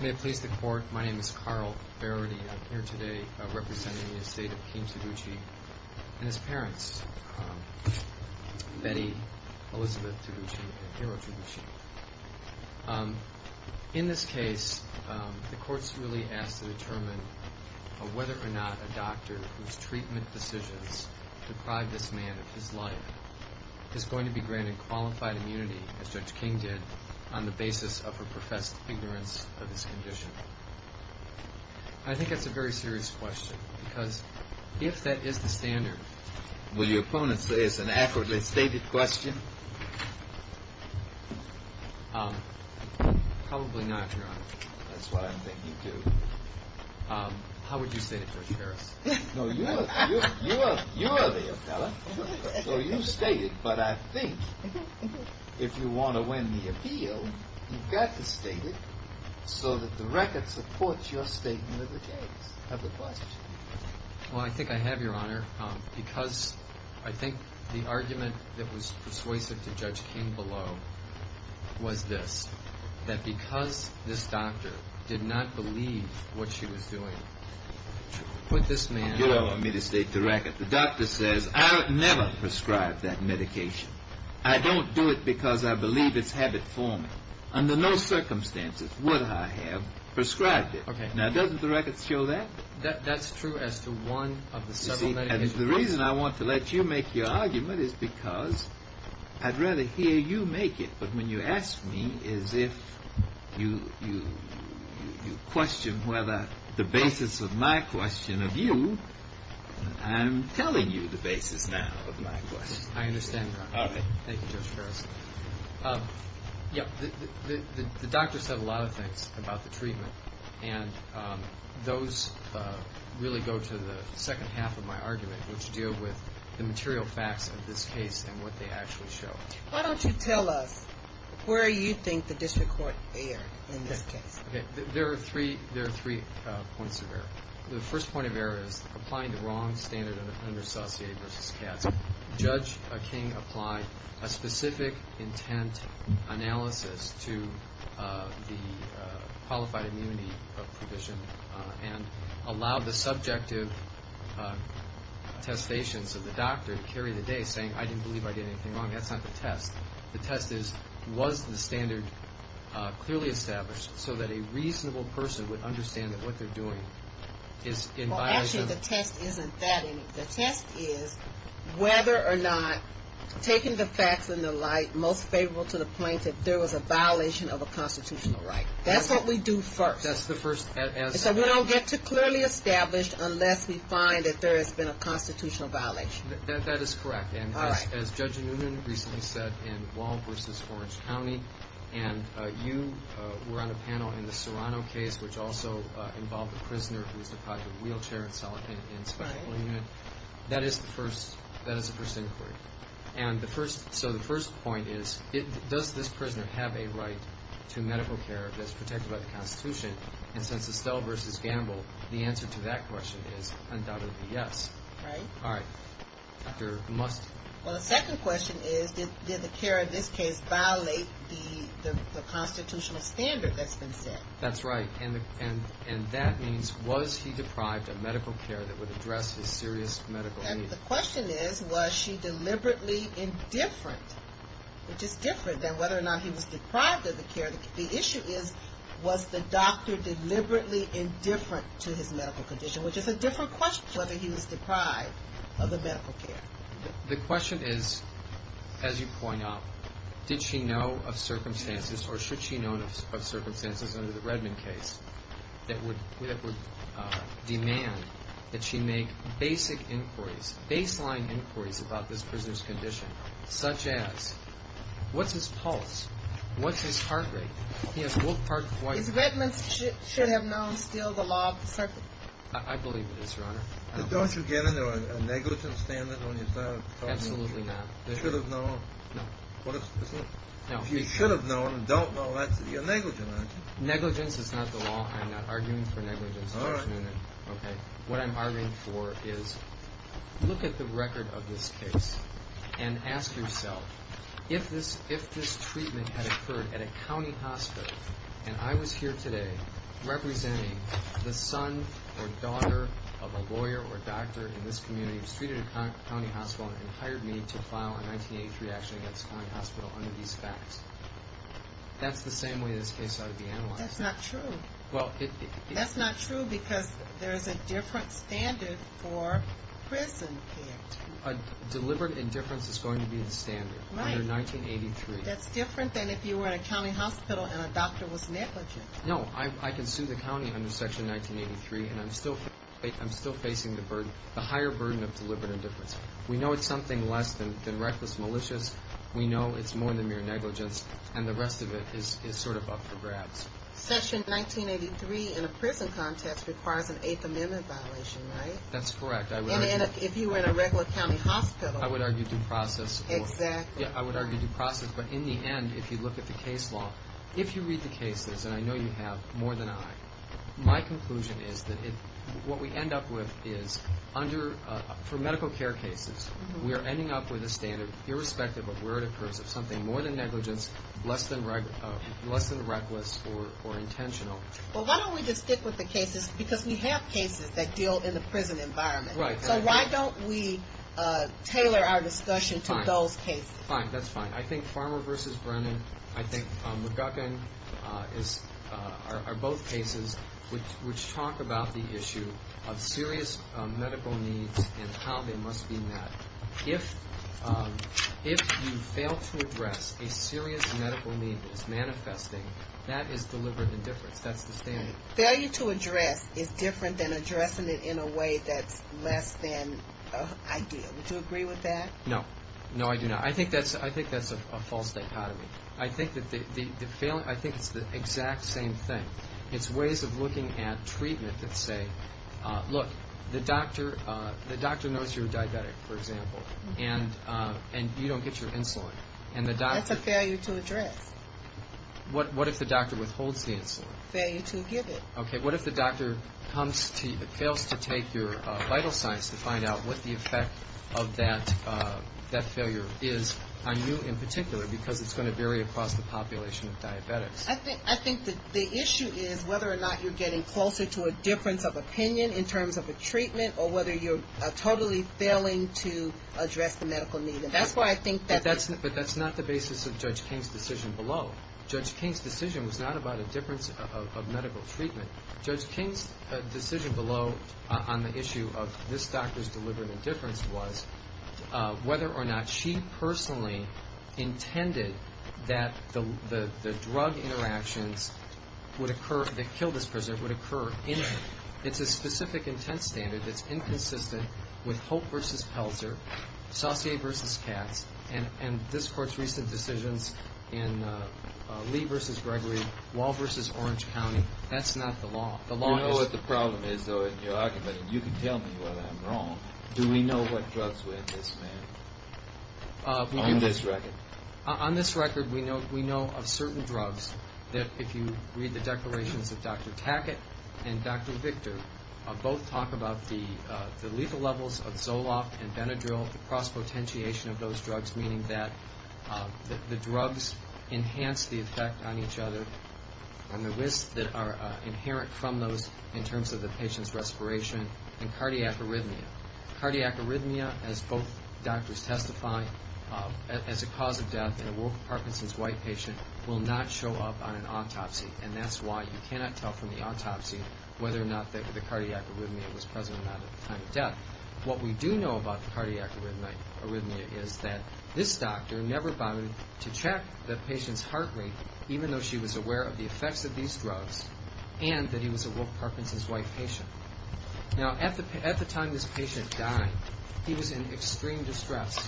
May it please the Court, my name is Carl Faraday. I'm here today representing the estate of King Toguchi and his parents, Betty Elizabeth Toguchi and Hiro Toguchi. In this case, the Court's really asked to determine whether or not a doctor whose treatment decisions deprive this man of his life is going to be granted qualified immunity, as Judge King did, on the basis of her professed ignorance of his condition. I think that's a very serious question, because if that is the standard... Will your opponent say it's an accurately stated question? Probably not, Your Honor. That's what I'm thinking, too. How would you state it, Judge Harris? No, you are the appellant, so you state it, but I think if you want to win the appeal, you've got to state it so that the record supports your statement of the case, of the question. Well, I think I have, Your Honor, because I think the argument that was persuasive to Judge King below was this, that because this doctor did not believe what she was doing, put this man... You don't want me to state the record. The doctor says, I'll never prescribe that medication. I don't do it because I believe it's habit forming. Under no circumstances would I have prescribed it. Okay. Now, doesn't the record show that? That's true as to one of the several medications... You see, and the reason I want to let you make your argument is because I'd rather hear you make it, but when you ask me as if you question whether the basis of my question of you, I'm telling you the basis now of my question. I understand, Your Honor. All right. Thank you, Judge Harris. Yeah, the doctor said a lot of things about the treatment, and those really go to the second half of my argument, which deal with the material facts of this case and what they actually show. Why don't you tell us where you think the district court erred in this case? Okay, there are three points of error. The first point of error is applying the wrong standard of under-associated versus cats. Judge King applied a specific intent analysis to the qualified immunity provision and allowed the subjective testations of the doctor to carry the day, saying, I didn't believe I did anything wrong. That's not the test. The test is, was the standard clearly established so that a reasonable person would understand that what they're doing is in violation... Well, actually, the test isn't that any. The test is whether or not, taking the facts into light, most favorable to the point that there was a violation of a constitutional right. That's what we do first. That's the first... So we don't get to clearly established unless we find that there has been a constitutional violation. That is correct. All right. As Judge Noonan recently said in Wall v. Orange County, and you were on a panel in the Serrano case, which also involved a prisoner who was deprived of a wheelchair in a spinal unit. That is the first inquiry. And so the first point is, does this prisoner have a right to medical care that's protected by the Constitution? And since Estelle v. Gamble, the answer to that question is undoubtedly yes. Right. All right. Dr. Must... Well, the second question is, did the care in this case violate the constitutional standard that's been set? That's right. And that means, was he deprived of medical care that would address his serious medical needs? The question is, was she deliberately indifferent? Which is different than whether or not he was deprived of the care. The issue is, was the doctor deliberately indifferent to his medical condition? Which is a different question to whether he was deprived of the medical care. The question is, as you point out, did she know of circumstances or should she know of circumstances under the Redmond case that would demand that she make basic inquiries, baseline inquiries about this prisoner's condition, such as, what's his pulse? What's his heart rate? Is Redmond's should have known still the law of the circuit? I believe it is, Your Honor. Don't you get a negligence standard on your side of the court? Absolutely not. They should have known. No. If you should have known and don't know, that's your negligence, isn't it? Negligence is not the law. I'm not arguing for negligence. All right. What I'm arguing for is look at the record of this case and ask yourself, if this treatment had occurred at a county hospital, and I was here today representing the son or daughter of a lawyer or doctor in this community who was treated at a county hospital and hired me to file a 1983 action against a county hospital under these facts, that's the same way this case ought to be analyzed. That's not true. That's not true because there is a different standard for prison care. Deliberate indifference is going to be the standard under 1983. Right. That's different than if you were at a county hospital and a doctor was negligent. No. I can sue the county under Section 1983, and I'm still facing the higher burden of deliberate indifference. We know it's something less than reckless malicious. We know it's more than mere negligence, and the rest of it is sort of up for grabs. Section 1983 in a prison context requires an Eighth Amendment violation, right? That's correct. And if you were in a regular county hospital. I would argue due process. Exactly. Yeah, I would argue due process. But in the end, if you look at the case law, if you read the cases, and I know you have more than I, my conclusion is that what we end up with is under, for medical care cases, we are ending up with a standard, irrespective of where it occurs, of something more than negligence, less than reckless, or intentional. Well, why don't we just stick with the cases? Because we have cases that deal in the prison environment. Right. So why don't we tailor our discussion to those cases? Fine. That's fine. I think Farmer v. Brennan, I think McGuckin are both cases which talk about the issue of serious medical needs and how they must be met. If you fail to address a serious medical need that is manifesting, that is deliberate indifference. That's the standard. Failure to address is different than addressing it in a way that's less than ideal. Would you agree with that? No. No, I do not. I think that's a false dichotomy. I think it's the exact same thing. It's ways of looking at treatment that say, look, the doctor knows you're a diabetic, for example, and you don't get your insulin. That's a failure to address. What if the doctor withholds the insulin? Failure to give it. Okay. What if the doctor fails to take your vital signs to find out what the effect of that failure is on you in particular because it's going to vary across the population of diabetics? I think the issue is whether or not you're getting closer to a difference of opinion in terms of a treatment or whether you're totally failing to address the medical need. But that's not the basis of Judge King's decision below. Judge King's decision was not about a difference of medical treatment. Judge King's decision below on the issue of this doctor's deliberate indifference was whether or not she personally intended that the drug interactions that kill this person would occur. It's a specific intent standard that's inconsistent with Hope v. Pelzer, Saucier v. Katz, and this Court's recent decisions in Lee v. Gregory, Wall v. Orange County. That's not the law. You know what the problem is, though, in your argument, and you can tell me whether I'm wrong. Do we know what drugs were in this man on this record? On this record, we know of certain drugs that, if you read the declarations of Dr. Tackett and Dr. Victor, both talk about the lethal levels of Zoloft and Benadryl, the cross-potentiation of those drugs, meaning that the drugs enhance the effect on each other and the risks that are inherent from those in terms of the patient's respiration, and cardiac arrhythmia. Cardiac arrhythmia, as both doctors testify, as a cause of death in a Parkinson's white patient, will not show up on an autopsy, and that's why you cannot tell from the autopsy whether or not the cardiac arrhythmia was present or not at the time of death. What we do know about the cardiac arrhythmia is that this doctor never bothered to check the patient's heart rate, even though she was aware of the effects of these drugs, and that he was a Wolf Parkinson's white patient. Now, at the time this patient died, he was in extreme distress.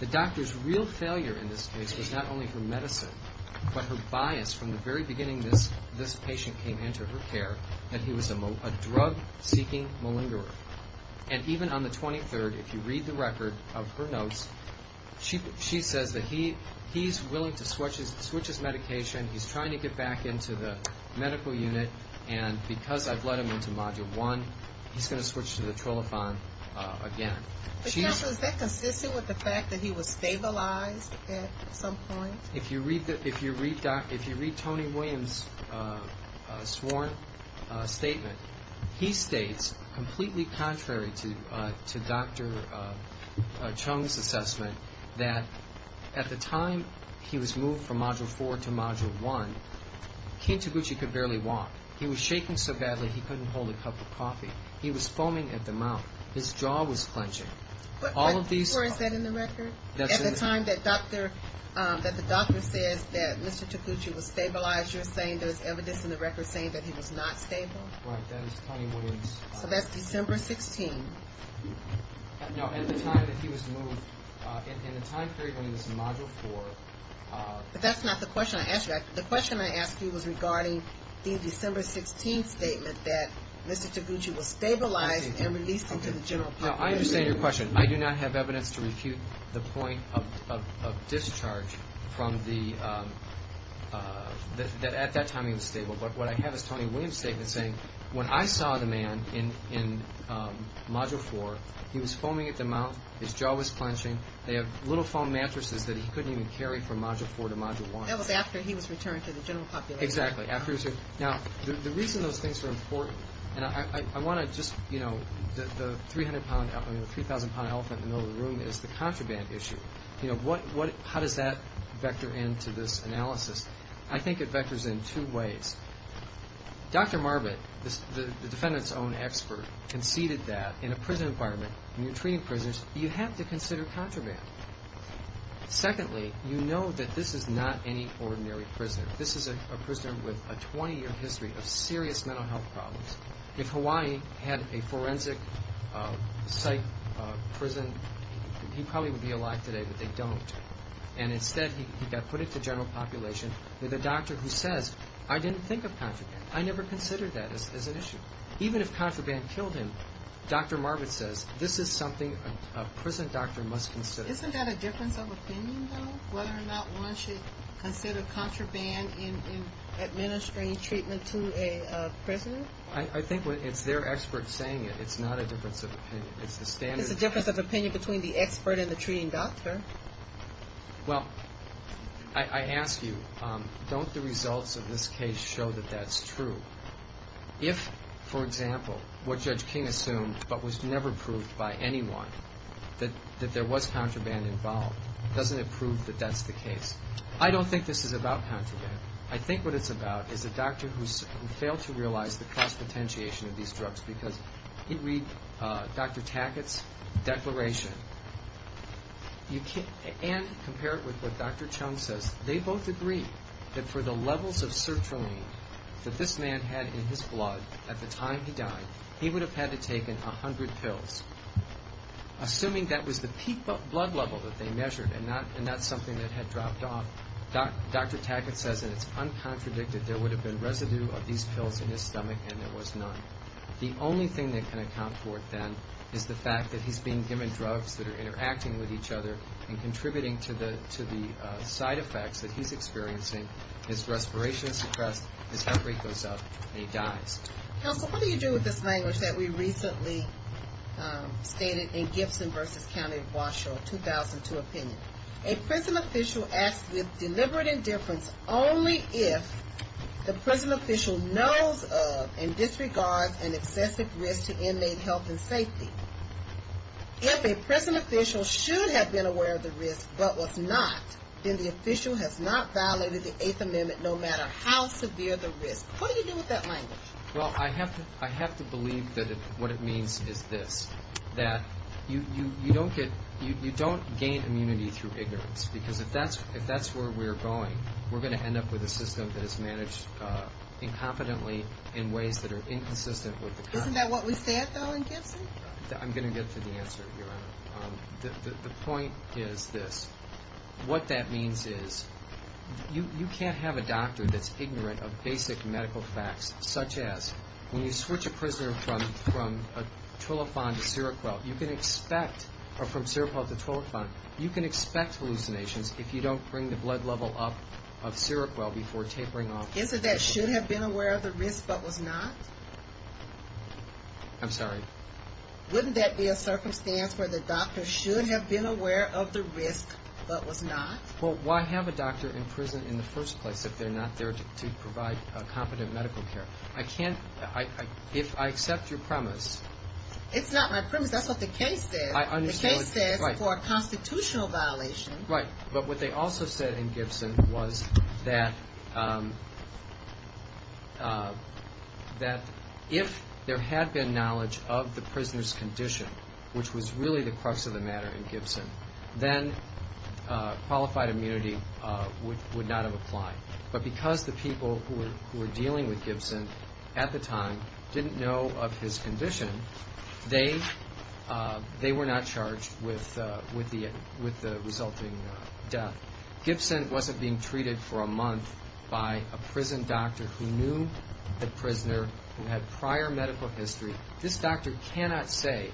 The doctor's real failure in this case was not only her medicine, but her bias from the very beginning this patient came into her care, that he was a drug-seeking malingerer. And even on the 23rd, if you read the record of her notes, she says that he's willing to switch his medication. He's trying to get back into the medical unit, and because I've let him into Module 1, he's going to switch to the Trolophan again. Is that consistent with the fact that he was stabilized at some point? If you read Tony Williams' sworn statement, he states, completely contrary to Dr. Chung's assessment, that at the time he was moved from Module 4 to Module 1, King Toguchi could barely walk. He was shaking so badly he couldn't hold a cup of coffee. He was foaming at the mouth. His jaw was clenching. But before, is that in the record? At the time that the doctor says that Mr. Toguchi was stabilized, you're saying there's evidence in the record saying that he was not stable? Right. That is Tony Williams. So that's December 16th. No, at the time that he was moved, in the time period when he was in Module 4. But that's not the question I asked you. The question I asked you was regarding the December 16th statement that Mr. Toguchi was stabilized and released into the general public. Now, I understand your question. I do not have evidence to refute the point of discharge that at that time he was stable. But what I have is Tony Williams' statement saying, when I saw the man in Module 4, he was foaming at the mouth. His jaw was clenching. They have little foam mattresses that he couldn't even carry from Module 4 to Module 1. That was after he was returned to the general public. Exactly. Now, the reason those things are important, and I want to just, you know, the 3,000-pound elephant in the middle of the room is the contraband issue. How does that vector into this analysis? I think it vectors in two ways. Dr. Marvin, the defendant's own expert, conceded that in a prison environment, when you're treating prisoners, you have to consider contraband. Secondly, you know that this is not any ordinary prisoner. This is a prisoner with a 20-year history of serious mental health problems. If Hawaii had a forensic site prison, he probably would be alive today, but they don't. And instead, he got put into general population with a doctor who says, I didn't think of contraband. I never considered that as an issue. Even if contraband killed him, Dr. Marvin says, this is something a prison doctor must consider. Isn't that a difference of opinion, though, whether or not one should consider contraband in administering treatment to a prisoner? I think it's their expert saying it. It's not a difference of opinion. It's a difference of opinion between the expert and the treating doctor. Well, I ask you, don't the results of this case show that that's true? If, for example, what Judge King assumed but was never proved by anyone, that there was contraband involved, doesn't it prove that that's the case? I don't think this is about contraband. I think what it's about is a doctor who failed to realize the cost potentiation of these drugs because if you read Dr. Tackett's declaration and compare it with what Dr. Chung says, they both agree that for the levels of sertraline that this man had in his blood at the time he died, he would have had to taken 100 pills. Assuming that was the peak blood level that they measured and not something that had dropped off, Dr. Tackett says, and it's uncontradicted, there would have been residue of these pills in his stomach, and there was none. The only thing that can account for it, then, is the fact that he's being given drugs that are interacting with each other and contributing to the side effects that he's experiencing. Counsel, what do you do with this language that we recently stated in Gibson v. County of Washoe, 2002 opinion? A prison official asks with deliberate indifference only if the prison official knows of and disregards an excessive risk to inmate health and safety. If a prison official should have been aware of the risk but was not, then the official has not violated the Eighth Amendment no matter how severe the risk. What do you do with that language? Well, I have to believe that what it means is this, that you don't gain immunity through ignorance, because if that's where we're going, we're going to end up with a system that is managed incompetently in ways that are inconsistent with the Constitution. Isn't that what we said, though, in Gibson? I'm going to get to the answer, Your Honor. The point is this. What that means is you can't have a doctor that's ignorant of basic medical facts, such as when you switch a prisoner from a Trillofan to Seroquel, you can expect hallucinations if you don't bring the blood level up of Seroquel before tapering off. Isn't that should have been aware of the risk but was not? I'm sorry? Wouldn't that be a circumstance where the doctor should have been aware of the risk but was not? Well, why have a doctor in prison in the first place if they're not there to provide competent medical care? I can't – if I accept your premise. It's not my premise. That's what the case says. I understand. The case says for a constitutional violation. Right. But what they also said in Gibson was that if there had been knowledge of the prisoner's condition, which was really the crux of the matter in Gibson, then qualified immunity would not have applied. But because the people who were dealing with Gibson at the time didn't know of his condition, they were not charged with the resulting death. Gibson wasn't being treated for a month by a prison doctor who knew the prisoner, who had prior medical history. This doctor cannot say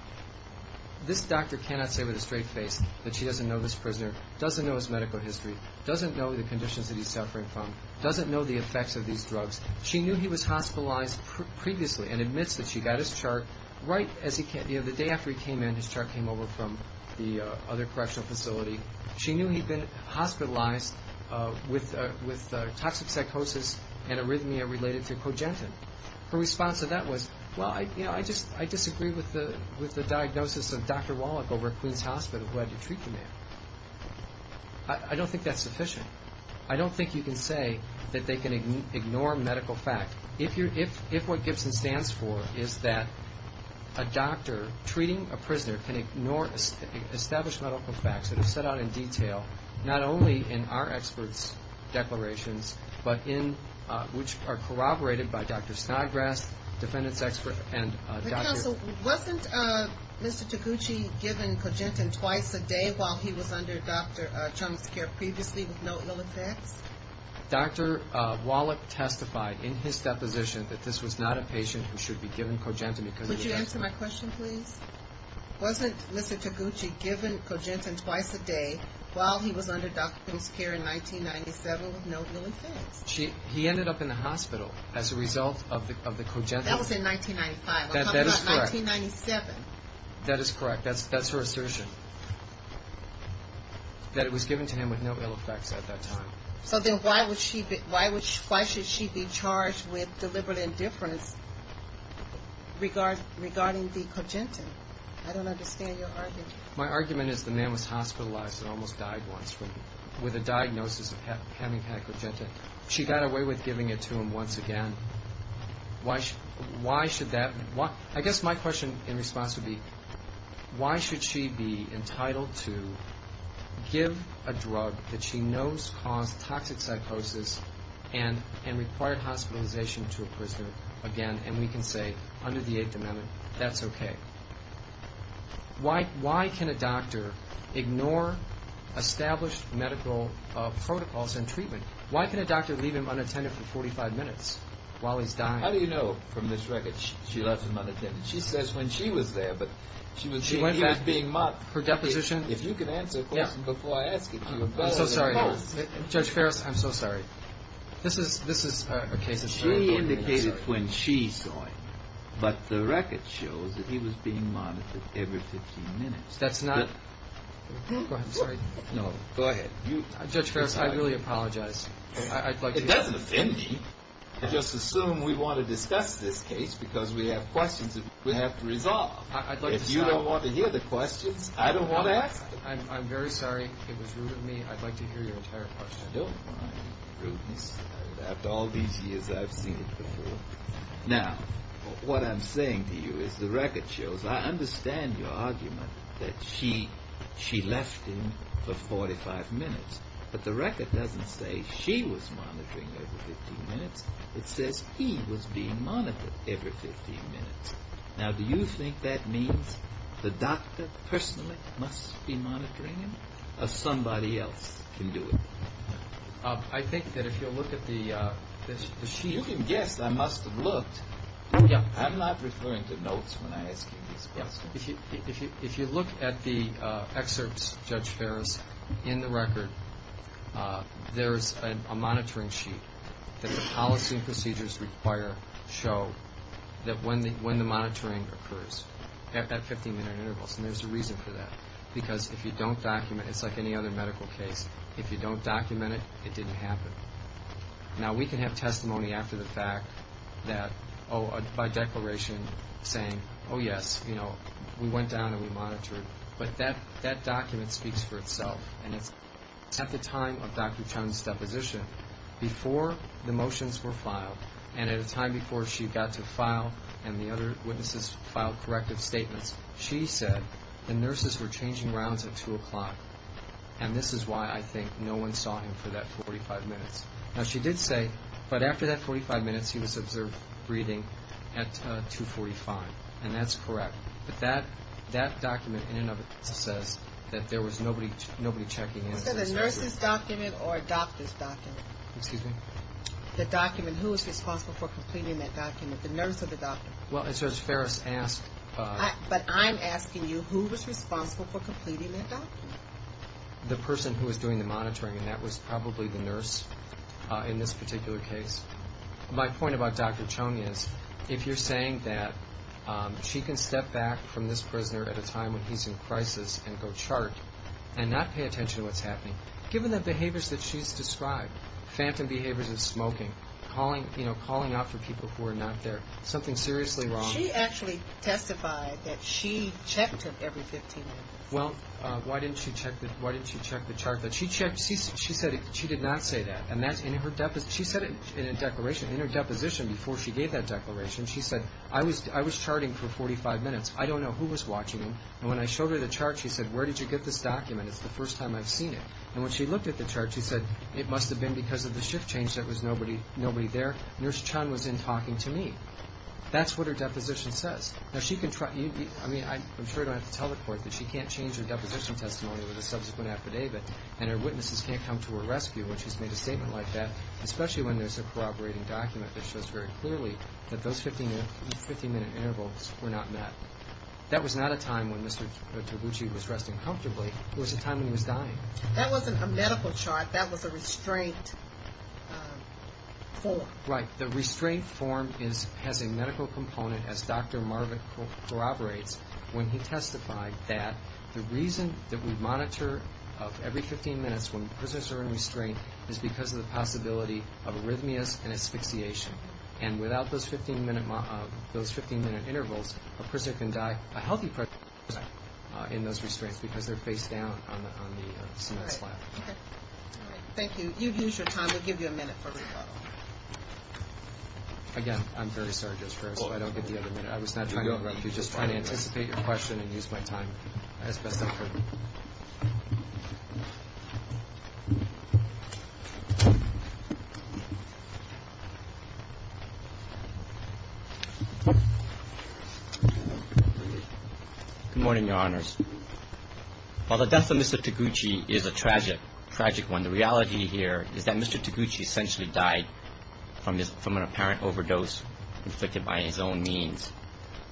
with a straight face that she doesn't know this prisoner, doesn't know his medical history, doesn't know the conditions that he's suffering from, doesn't know the effects of these drugs. She knew he was hospitalized previously and admits that she got his chart right the day after he came in. His chart came over from the other correctional facility. She knew he'd been hospitalized with toxic psychosis and arrhythmia related to cogentin. Her response to that was, well, I disagree with the diagnosis of Dr. Wallach over at Queens Hospital who had to treat the man. I don't think that's sufficient. I don't think you can say that they can ignore medical fact. If what Gibson stands for is that a doctor treating a prisoner can establish medical facts that are set out in detail, not only in our experts' declarations, but which are corroborated by Dr. Snodgrass, defendant's expert and doctor. Wasn't Mr. Taguchi given cogentin twice a day while he was under Dr. Chung's care previously with no ill effects? Dr. Wallach testified in his deposition that this was not a patient who should be given cogentin. Would you answer my question, please? Wasn't Mr. Taguchi given cogentin twice a day while he was under Dr. Chung's care in 1997 with no ill effects? He ended up in the hospital as a result of the cogentin. That was in 1995. That is correct. I'm talking about 1997. That is correct. That's her assertion, that it was given to him with no ill effects at that time. So then why should she be charged with deliberate indifference regarding the cogentin? I don't understand your argument. My argument is the man was hospitalized and almost died once with a diagnosis of having had cogentin. She got away with giving it to him once again. Why should that be? I guess my question in response would be why should she be entitled to give a drug that she knows caused toxic psychosis and required hospitalization to a prisoner again, and we can say under the Eighth Amendment that's okay? Why can a doctor ignore established medical protocols and treatment? Why can a doctor leave him unattended for 45 minutes while he's dying? How do you know from this record she left him unattended? She says when she was there, but she was saying he was being monitored. Her deposition? If you could answer the question before I ask it, you would know. I'm so sorry. Judge Ferris, I'm so sorry. This is a case that's very important. She indicated when she saw him, but the record shows that he was being monitored every 15 minutes. That's not – go ahead. I'm sorry. No, go ahead. Judge Ferris, I really apologize. It doesn't offend me. Just assume we want to discuss this case because we have questions we have to resolve. If you don't want to hear the questions, I don't want to ask them. I'm very sorry. It was rude of me. I'd like to hear your entire question. I don't mind rudeness. After all these years, I've seen it before. Now, what I'm saying to you is the record shows – I understand your argument that she left him for 45 minutes, but the record doesn't say she was monitoring every 15 minutes. It says he was being monitored every 15 minutes. Now, do you think that means the doctor personally must be monitoring him or somebody else can do it? I think that if you look at the sheet – I mean, you can guess. I must have looked. I'm not referring to notes when I ask you this question. If you look at the excerpts, Judge Ferris, in the record, there is a monitoring sheet that the policy and procedures require show that when the monitoring occurs at 15-minute intervals. And there's a reason for that. Because if you don't document – it's like any other medical case. If you don't document it, it didn't happen. Now, we can have testimony after the fact that – oh, by declaration saying, oh, yes, you know, we went down and we monitored. But that document speaks for itself. And it's at the time of Dr. Chung's deposition, before the motions were filed, and at a time before she got to file and the other witnesses filed corrective statements, she said the nurses were changing rounds at 2 o'clock. And this is why I think no one saw him for that 45 minutes. Now, she did say, but after that 45 minutes, he was observed breathing at 2.45. And that's correct. But that document, in and of itself, says that there was nobody checking in. Was that a nurse's document or a doctor's document? Excuse me? The document. Who was responsible for completing that document? The nurse or the doctor? Well, Judge Ferris asked – But I'm asking you, who was responsible for completing that document? The person who was doing the monitoring, and that was probably the nurse in this particular case. My point about Dr. Chung is, if you're saying that she can step back from this prisoner at a time when he's in crisis and go chart and not pay attention to what's happening, given the behaviors that she's described, phantom behaviors of smoking, calling out for people who are not there, something seriously wrong. She actually testified that she checked him every 15 minutes. Well, why didn't she check the chart? She said she did not say that. She said it in her deposition before she gave that declaration. She said, I was charting for 45 minutes. I don't know who was watching him. And when I showed her the chart, she said, where did you get this document? It's the first time I've seen it. And when she looked at the chart, she said, it must have been because of the shift change. There was nobody there. Nurse Chung was in talking to me. That's what her deposition says. I'm sure I don't have to tell the court that she can't change her deposition testimony with a subsequent affidavit, and her witnesses can't come to her rescue when she's made a statement like that, especially when there's a corroborating document that shows very clearly that those 15-minute intervals were not met. That was not a time when Mr. Taguchi was resting comfortably. It was a time when he was dying. That wasn't a medical chart. That was a restraint form. Right. The restraint form has a medical component, as Dr. Marvick corroborates, when he testified that the reason that we monitor every 15 minutes when prisoners are in restraint is because of the possibility of arrhythmias and asphyxiation. And without those 15-minute intervals, a person can die a healthy person in those restraints because they're face down on the cement slab. Thank you. You've used your time. We'll give you a minute for rebuttal. Again, I'm very sorry. I don't get the other minute. I was just trying to anticipate your question and use my time as best I could. Good morning, Your Honors. While the death of Mr. Taguchi is a tragic one, the reality here is that Mr. Taguchi essentially died from an apparent overdose inflicted by his own means.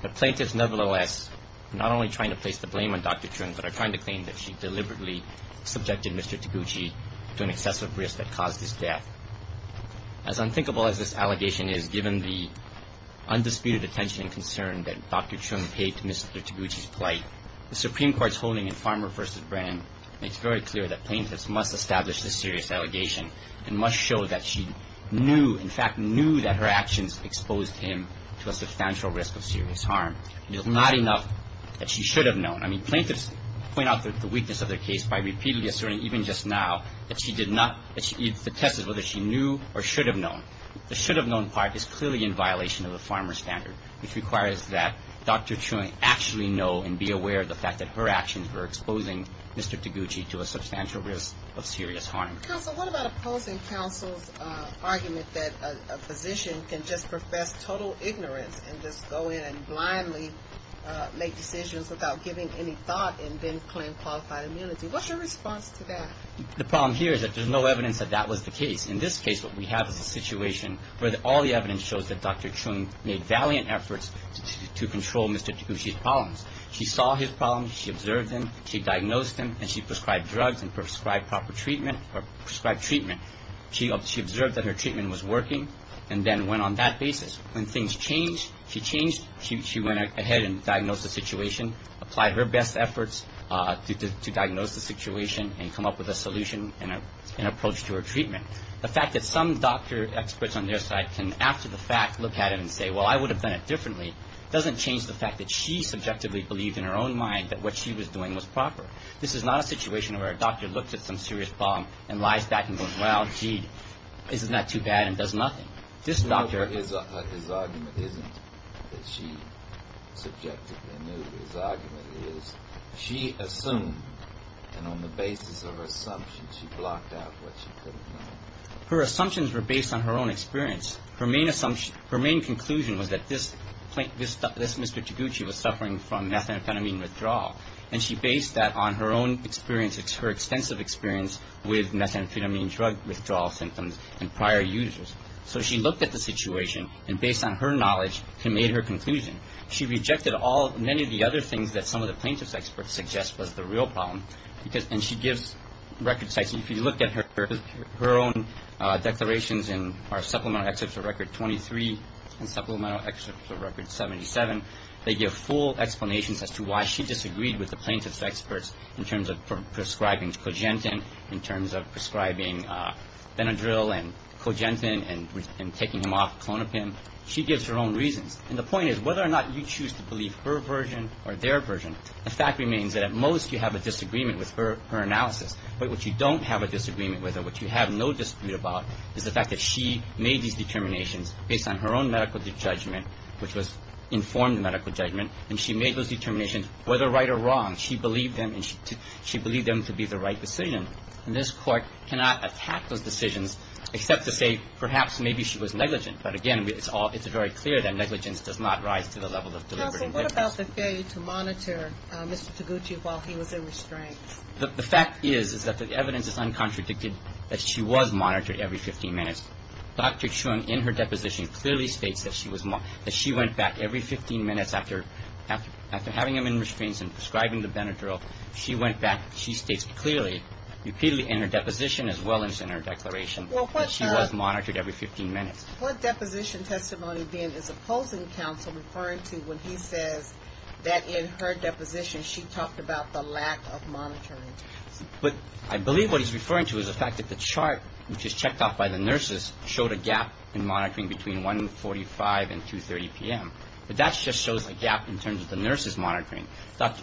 The plaintiffs, nevertheless, are not only trying to place the blame on Dr. Chung, but are trying to claim that she deliberately subjected Mr. Taguchi to an excessive risk that caused his death. As unthinkable as this allegation is, given the undisputed attention and concern that Dr. Chung paid to Mr. Taguchi's plight, the Supreme Court's holding in Farmer v. Brand makes very clear that plaintiffs must establish this serious allegation and must show that she knew, in fact, knew that her actions exposed him to a substantial risk of serious harm. It is not enough that she should have known. I mean, plaintiffs point out the weakness of their case by repeatedly asserting, even just now, that she did not, that she detested whether she knew or should have known. The should have known part is clearly in violation of the Farmer standard, which requires that Dr. Chung actually know and be aware of the fact that her actions were exposing Mr. Taguchi to a substantial risk of serious harm. Counsel, what about opposing counsel's argument that a physician can just profess total ignorance and just go in and blindly make decisions without giving any thought and then claim qualified immunity? What's your response to that? The problem here is that there's no evidence that that was the case. In this case, what we have is a situation where all the evidence shows that Dr. Chung made valiant efforts to control Mr. Taguchi's problems. She saw his problems. She observed them. She diagnosed them. And she prescribed drugs and prescribed proper treatment or prescribed treatment. She observed that her treatment was working and then went on that basis. When things changed, she changed. She went ahead and diagnosed the situation, applied her best efforts to diagnose the situation and come up with a solution and an approach to her treatment. The fact that some doctor experts on their side can, after the fact, look at it and say, well, I would have done it differently doesn't change the fact that she subjectively believed in her own mind that what she was doing was proper. This is not a situation where a doctor looks at some serious problem and lies back and goes, well, gee, isn't that too bad and does nothing. His argument isn't that she subjectively knew. His argument is she assumed and on the basis of her assumptions she blocked out what she could have known. Her assumptions were based on her own experience. Her main assumption, her main conclusion was that this Mr. Taguchi was suffering from methamphetamine withdrawal. And she based that on her own experience, her extensive experience with methamphetamine drug withdrawal symptoms and prior users. So she looked at the situation and based on her knowledge she made her conclusion. She rejected all, many of the other things that some of the plaintiff's experts suggest was the real problem. And she gives record sites. If you look at her own declarations in our Supplemental Excerpt to Record 23 and Supplemental Excerpt to Record 77, they give full explanations as to why she disagreed with the plaintiff's experts in terms of prescribing cogentin, in terms of prescribing Benadryl and cogentin and taking them off clonopin. She gives her own reasons. And the point is whether or not you choose to believe her version or their version, the fact remains that at most you have a disagreement with her analysis. But what you don't have a disagreement with or what you have no dispute about is the fact that she made these determinations based on her own medical judgment, which was informed medical judgment, and she made those determinations whether right or wrong. She believed them and she believed them to be the right decision. And this Court cannot attack those decisions except to say perhaps maybe she was negligent. But, again, it's all ñ it's very clear that negligence does not rise to the level of deliberative evidence. What about the failure to monitor Mr. Taguchi while he was in restraints? The fact is, is that the evidence is uncontradicted that she was monitored every 15 minutes. Dr. Chung, in her deposition, clearly states that she was ñ that she went back every 15 minutes after having him in restraints and prescribing the Benadryl. She went back. She states clearly, repeatedly in her deposition as well as in her declaration, that she was monitored every 15 minutes. What deposition testimony, then, is opposing counsel referring to when he says that in her deposition she talked about the lack of monitoring? But I believe what he's referring to is the fact that the chart, which is checked off by the nurses, showed a gap in monitoring between 1.45 and 2.30 p.m. But that just shows a gap in terms of the nurses' monitoring.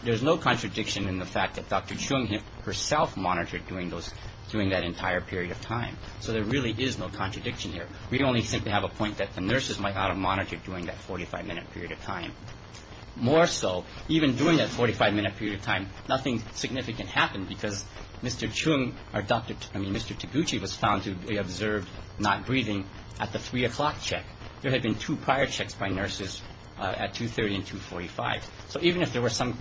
There's no contradiction in the fact that Dr. Chung herself monitored during that entire period of time. So there really is no contradiction here. We only simply have a point that the nurses might not have monitored during that 45-minute period of time. More so, even during that 45-minute period of time, nothing significant happened because Mr. Chung or Dr. ñ I mean, Mr. Taguchi was found to be observed not breathing at the 3 o'clock check. There had been two prior checks by nurses at 2.30 and 2.45. So even if there were some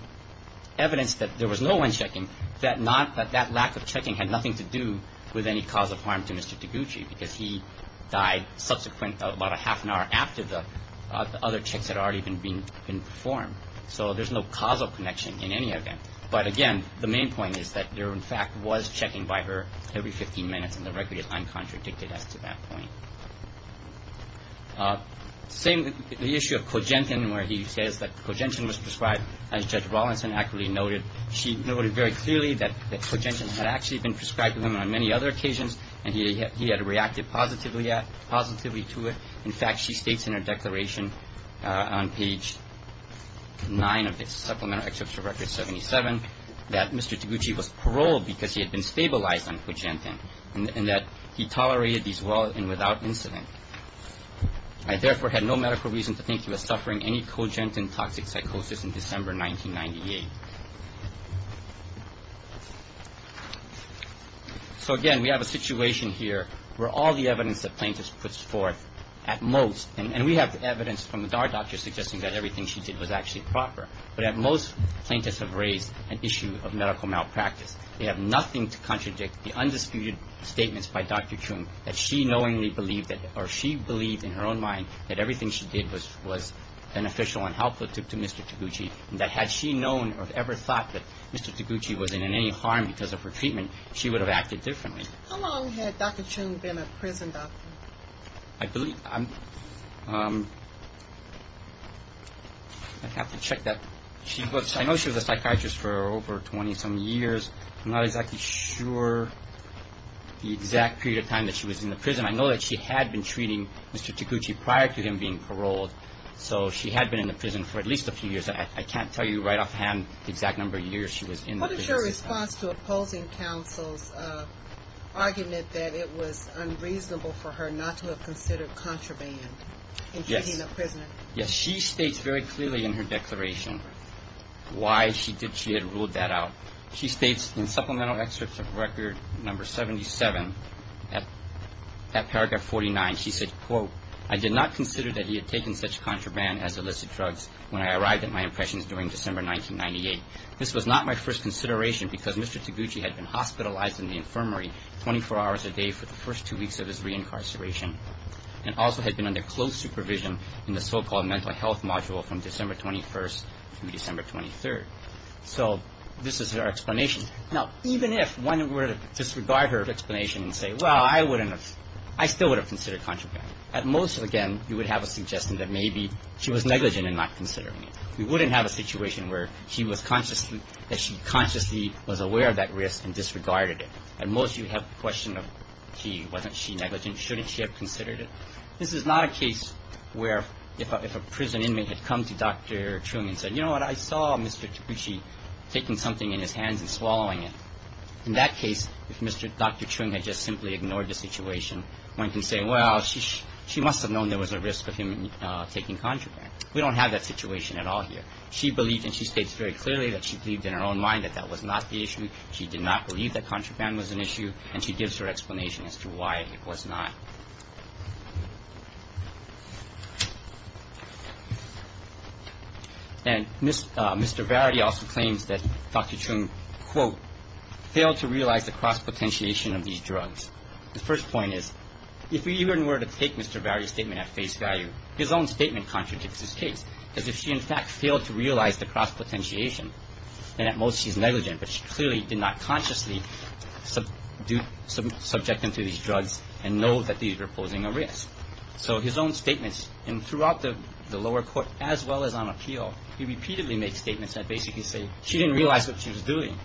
evidence that there was no one checking, that not ñ that that lack of checking had nothing to do with any cause of harm to Mr. Taguchi because he died subsequent, about a half an hour after the other checks had already been performed. So there's no causal connection in any event. But, again, the main point is that there, in fact, was checking by her every 15 minutes, and the record is uncontradicted as to that point. Same with the issue of Kogentian, where he says that Kogentian was prescribed, as Judge Rawlinson accurately noted. She noted very clearly that Kogentian had actually been prescribed to him on many other occasions, and he had reacted positively to it. In fact, she states in her declaration on page 9 of the Supplemental Exceptional Record 77 that Mr. Taguchi was paroled because he had been stabilized on Kogentian and that he tolerated these well and without incident. I, therefore, had no medical reason to think he was suffering any Kogentian toxic psychosis in December 1998. So, again, we have a situation here where all the evidence that plaintiff puts forth at most and we have evidence from our doctors suggesting that everything she did was actually proper, but at most plaintiffs have raised an issue of medical malpractice. They have nothing to contradict the undisputed statements by Dr. Chung that she knowingly believed that or she believed in her own mind that everything she did was beneficial and helpful to Mr. Taguchi and that had she known or ever thought that Mr. Taguchi was in any harm because of her treatment, she would have acted differently. How long had Dr. Chung been a prison doctor? I believe, I have to check that. I know she was a psychiatrist for over 20-some years. I'm not exactly sure the exact period of time that she was in the prison. I know that she had been treating Mr. Taguchi prior to him being paroled, so she had been in the prison for at least a few years. I can't tell you right offhand the exact number of years she was in the prison. What is your response to opposing counsel's argument that it was unreasonable for her not to have considered contraband in treating a prisoner? Yes, she states very clearly in her declaration why she had ruled that out. She states in supplemental excerpt of Record No. 77, at paragraph 49, she said, quote, I did not consider that he had taken such contraband as illicit drugs when I arrived at my impressions during December 1998. This was not my first consideration because Mr. Taguchi had been hospitalized in the infirmary 24 hours a day for the first two weeks of his reincarceration and also had been under close supervision in the so-called mental health module from December 21st through December 23rd. So this is her explanation. Now, even if one were to disregard her explanation and say, well, I wouldn't have – I still would have considered contraband. At most, again, you would have a suggestion that maybe she was negligent in not considering it. We wouldn't have a situation where she was consciously – that she consciously was aware of that risk and disregarded it. At most, you would have a question of she – wasn't she negligent? Shouldn't she have considered it? This is not a case where if a prison inmate had come to Dr. Chu and said, you know what, I saw Mr. Taguchi taking something in his hands and swallowing it. In that case, if Mr. – Dr. Chu had just simply ignored the situation, one can say, well, she must have known there was a risk of him taking contraband. We don't have that situation at all here. She believed – and she states very clearly that she believed in her own mind that that was not the issue. She did not believe that contraband was an issue. And she gives her explanation as to why it was not. And Mr. Varity also claims that Dr. Chu, quote, failed to realize the cross-potentiation of these drugs. The first point is if we even were to take Mr. Varity's statement at face value, his own statement contradicts his case, because if she in fact failed to realize the cross-potentiation, then at most she's negligent, but she clearly did not consciously subject him to these drugs and know that these were posing a risk. So his own statements – and throughout the lower court, as well as on appeal, he repeatedly makes statements that basically say she didn't realize what she was doing.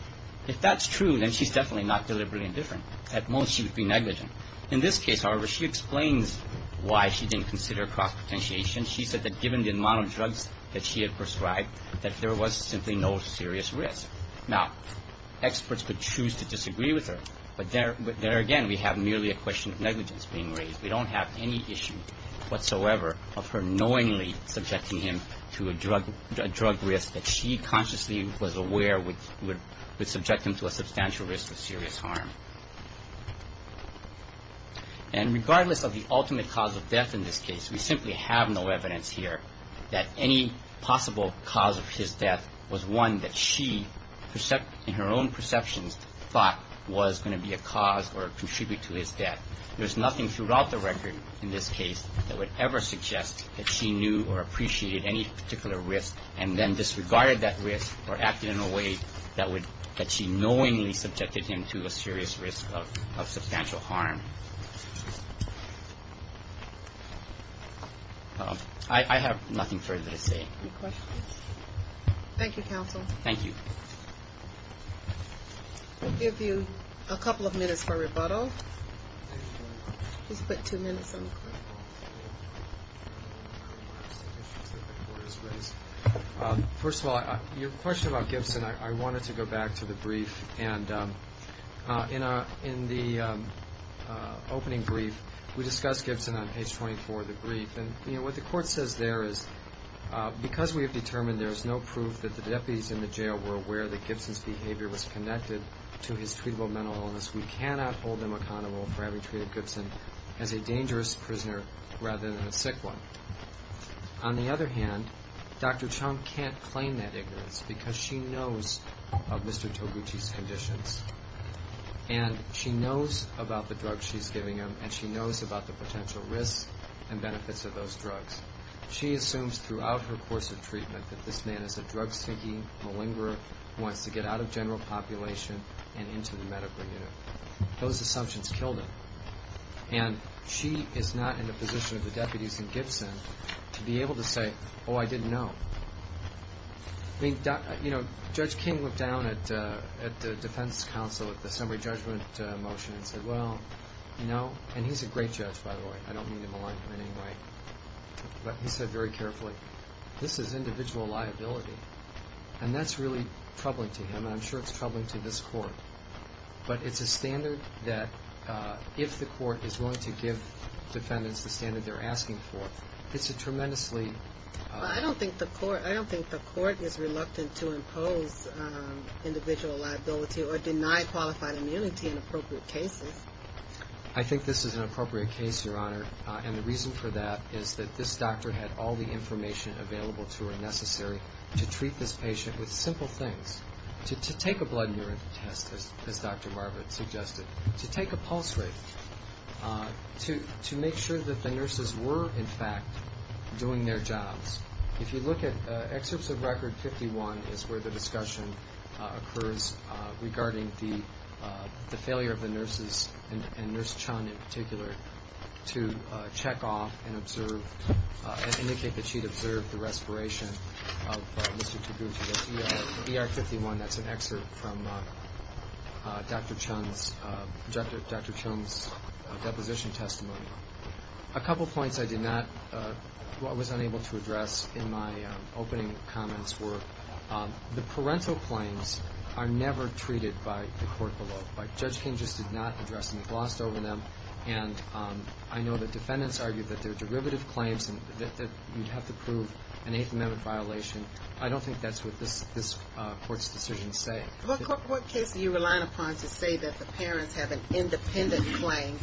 If that's true, then she's definitely not deliberately indifferent. At most she would be negligent. In this case, however, she explains why she didn't consider cross-potentiation. She said that given the amount of drugs that she had prescribed, that there was simply no serious risk. Now, experts could choose to disagree with her, but there again we have merely a question of negligence being raised. We don't have any issue whatsoever of her knowingly subjecting him to a drug risk that she consciously was aware would subject him to a substantial risk of serious harm. And regardless of the ultimate cause of death in this case, we simply have no evidence here that any possible cause of his death was one that she, in her own perceptions, thought was going to be a cause or contribute to his death. There's nothing throughout the record in this case that would ever suggest that she knew or appreciated any particular risk and then disregarded that risk or acted in a way that she knowingly subjected him to a serious risk of substantial harm. I have nothing further to say. Any questions? Thank you, counsel. Thank you. We'll give you a couple of minutes for rebuttal. First of all, your question about Gibson, I wanted to go back to the brief. And in the opening brief, we discussed Gibson on page 24 of the brief. And what the court says there is because we have determined there is no proof that the deputies in the jail were aware that Gibson's behavior was connected to his treatable mental illness, we cannot hold them accountable for having treated Gibson as a dangerous prisoner rather than a sick one. On the other hand, Dr. Chung can't claim that ignorance because she knows of Mr. Toguchi's conditions, and she knows about the drugs she's giving him, and she knows about the potential risks and benefits of those drugs. She assumes throughout her course of treatment that this man is a drug-stinking malingerer who wants to get out of general population and into the medical unit. Those assumptions killed him. And she is not in a position of the deputies in Gibson to be able to say, oh, I didn't know. Judge King looked down at the defense counsel at the summary judgment motion and said, well, no. And he's a great judge, by the way. I don't mean to malign him in any way. But he said very carefully, this is individual liability. And that's really troubling to him, and I'm sure it's troubling to this court. But it's a standard that if the court is willing to give defendants the standard they're asking for, it's a tremendously... I don't think the court is reluctant to impose individual liability or deny qualified immunity in appropriate cases. I think this is an appropriate case, Your Honor, and the reason for that is that this doctor had all the information available to her necessary to treat this patient with simple things, to take a blood urine test, as Dr. Barber suggested, to take a pulse rate, to make sure that the nurses were, in fact, doing their jobs. If you look at excerpts of Record 51, it's where the discussion occurs regarding the failure of the nurses, and Nurse Chun in particular, to check off and observe and indicate that she'd observed the respiration of Mr. Taguchi. That's ER 51. That's an excerpt from Dr. Chun's deposition testimony. A couple points I was unable to address in my opening comments were the parental claims are never treated by the court below. Judge King just did not address them. He glossed over them. And I know that defendants argue that they're derivative claims and that you'd have to prove an Eighth Amendment violation. I don't think that's what this court's decisions say. What case are you relying upon to say that the parents have an independent claim?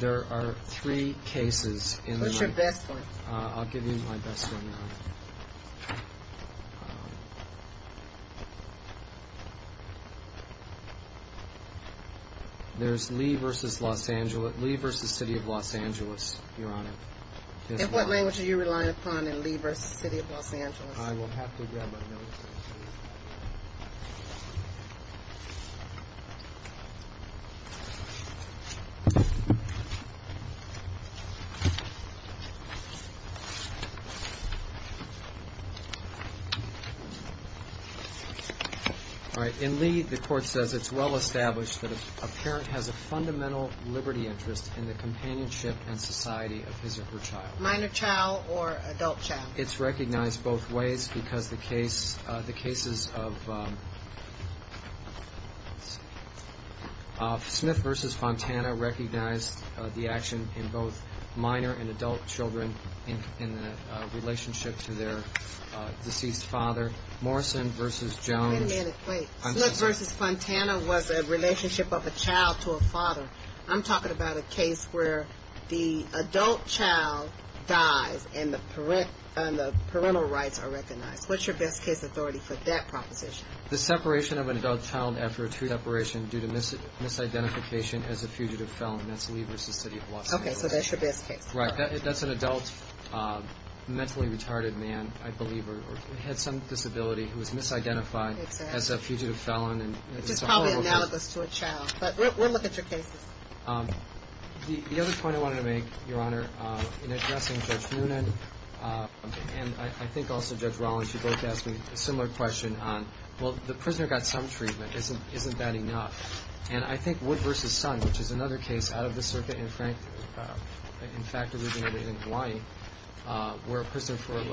There are three cases. What's your best one? I'll give you my best one now. There's Lee v. City of Los Angeles, Your Honor. And what language are you relying upon in Lee v. City of Los Angeles? I will have to grab my notes. All right. In Lee, the court says it's well established that a parent has a fundamental liberty interest in the companionship and society of his or her child. Minor child or adult child? It's recognized both ways because the cases of Smith v. Fontana recognize the action in both minor and adult children in the relationship to their deceased father. Morrison v. Jones. Wait a minute. Wait. Smith v. Fontana was a relationship of a child to a father. I'm talking about a case where the adult child dies and the parental rights are recognized. What's your best case authority for that proposition? The separation of an adult child after a two-step operation due to misidentification as a fugitive felon. That's Lee v. City of Los Angeles. Okay. So that's your best case. Right. That's an adult, mentally retarded man, I believe, or had some disability who was misidentified as a fugitive felon. Which is probably analogous to a child. But we'll look at your cases. The other point I wanted to make, Your Honor, in addressing Judge Noonan and I think also Judge Rollins, you both asked me a similar question on, well, the prisoner got some treatment. Isn't that enough? And I think Wood v. Son, which is another case out of the circuit and, in fact, originated in Hawaii, where a prisoner for a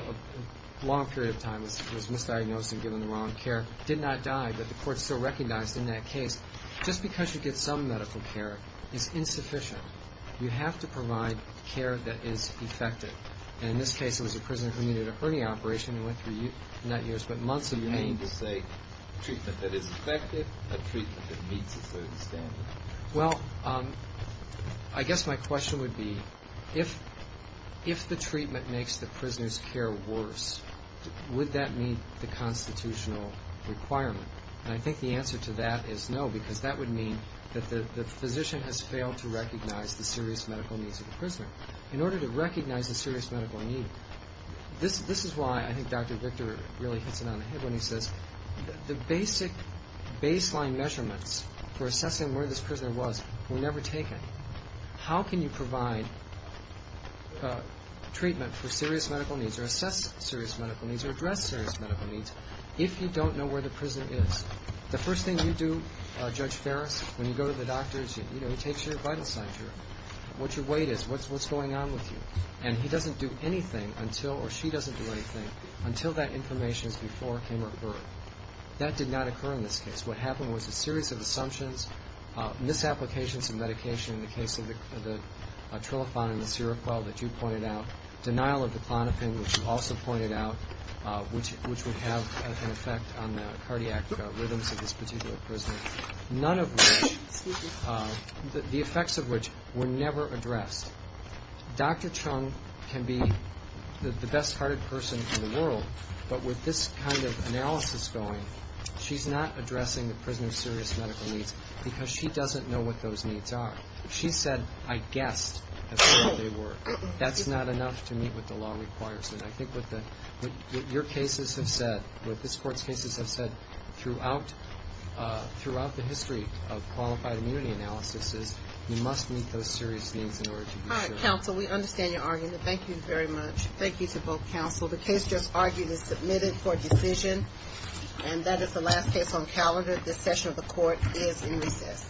long period of time was misdiagnosed and given the wrong care, did not die, but the court still recognized in that case. Just because you get some medical care is insufficient. You have to provide care that is effective. And in this case, it was a prisoner who needed a hernia operation and went through, not years, but months of remains. Do you mean to say treatment that is effective, a treatment that meets a certain standard? Well, I guess my question would be, if the treatment makes the prisoner's care worse, would that meet the constitutional requirement? And I think the answer to that is no because that would mean that the physician has failed to recognize the serious medical needs of the prisoner. In order to recognize the serious medical need, this is why I think Dr. Victor really hits it on the head when he says the basic baseline measurements for assessing where this prisoner was were never taken. How can you provide treatment for serious medical needs or assess serious medical needs if you don't know where the prison is? The first thing you do, Judge Ferris, when you go to the doctors, you know, he takes your vital signs, what your weight is, what's going on with you. And he doesn't do anything until, or she doesn't do anything, until that information is before him or her. That did not occur in this case. What happened was a series of assumptions, misapplications of medication in the case of the Trilofan and the Seroquel that you pointed out, denial of the Klonopin, which you also pointed out, which would have an effect on the cardiac rhythms of this particular prisoner, none of which, the effects of which were never addressed. Dr. Chung can be the best-hearted person in the world, but with this kind of analysis going, she's not addressing the prisoner's serious medical needs because she doesn't know what those needs are. She said, I guessed, that's what they were. That's not enough to meet what the law requires. And I think what your cases have said, what this Court's cases have said throughout the history of qualified immunity analysis is you must meet those serious needs in order to be sure. All right, counsel, we understand your argument. Thank you very much. Thank you to both counsel. The case just argued is submitted for decision, and that is the last case on calendar. This session of the Court is in recess.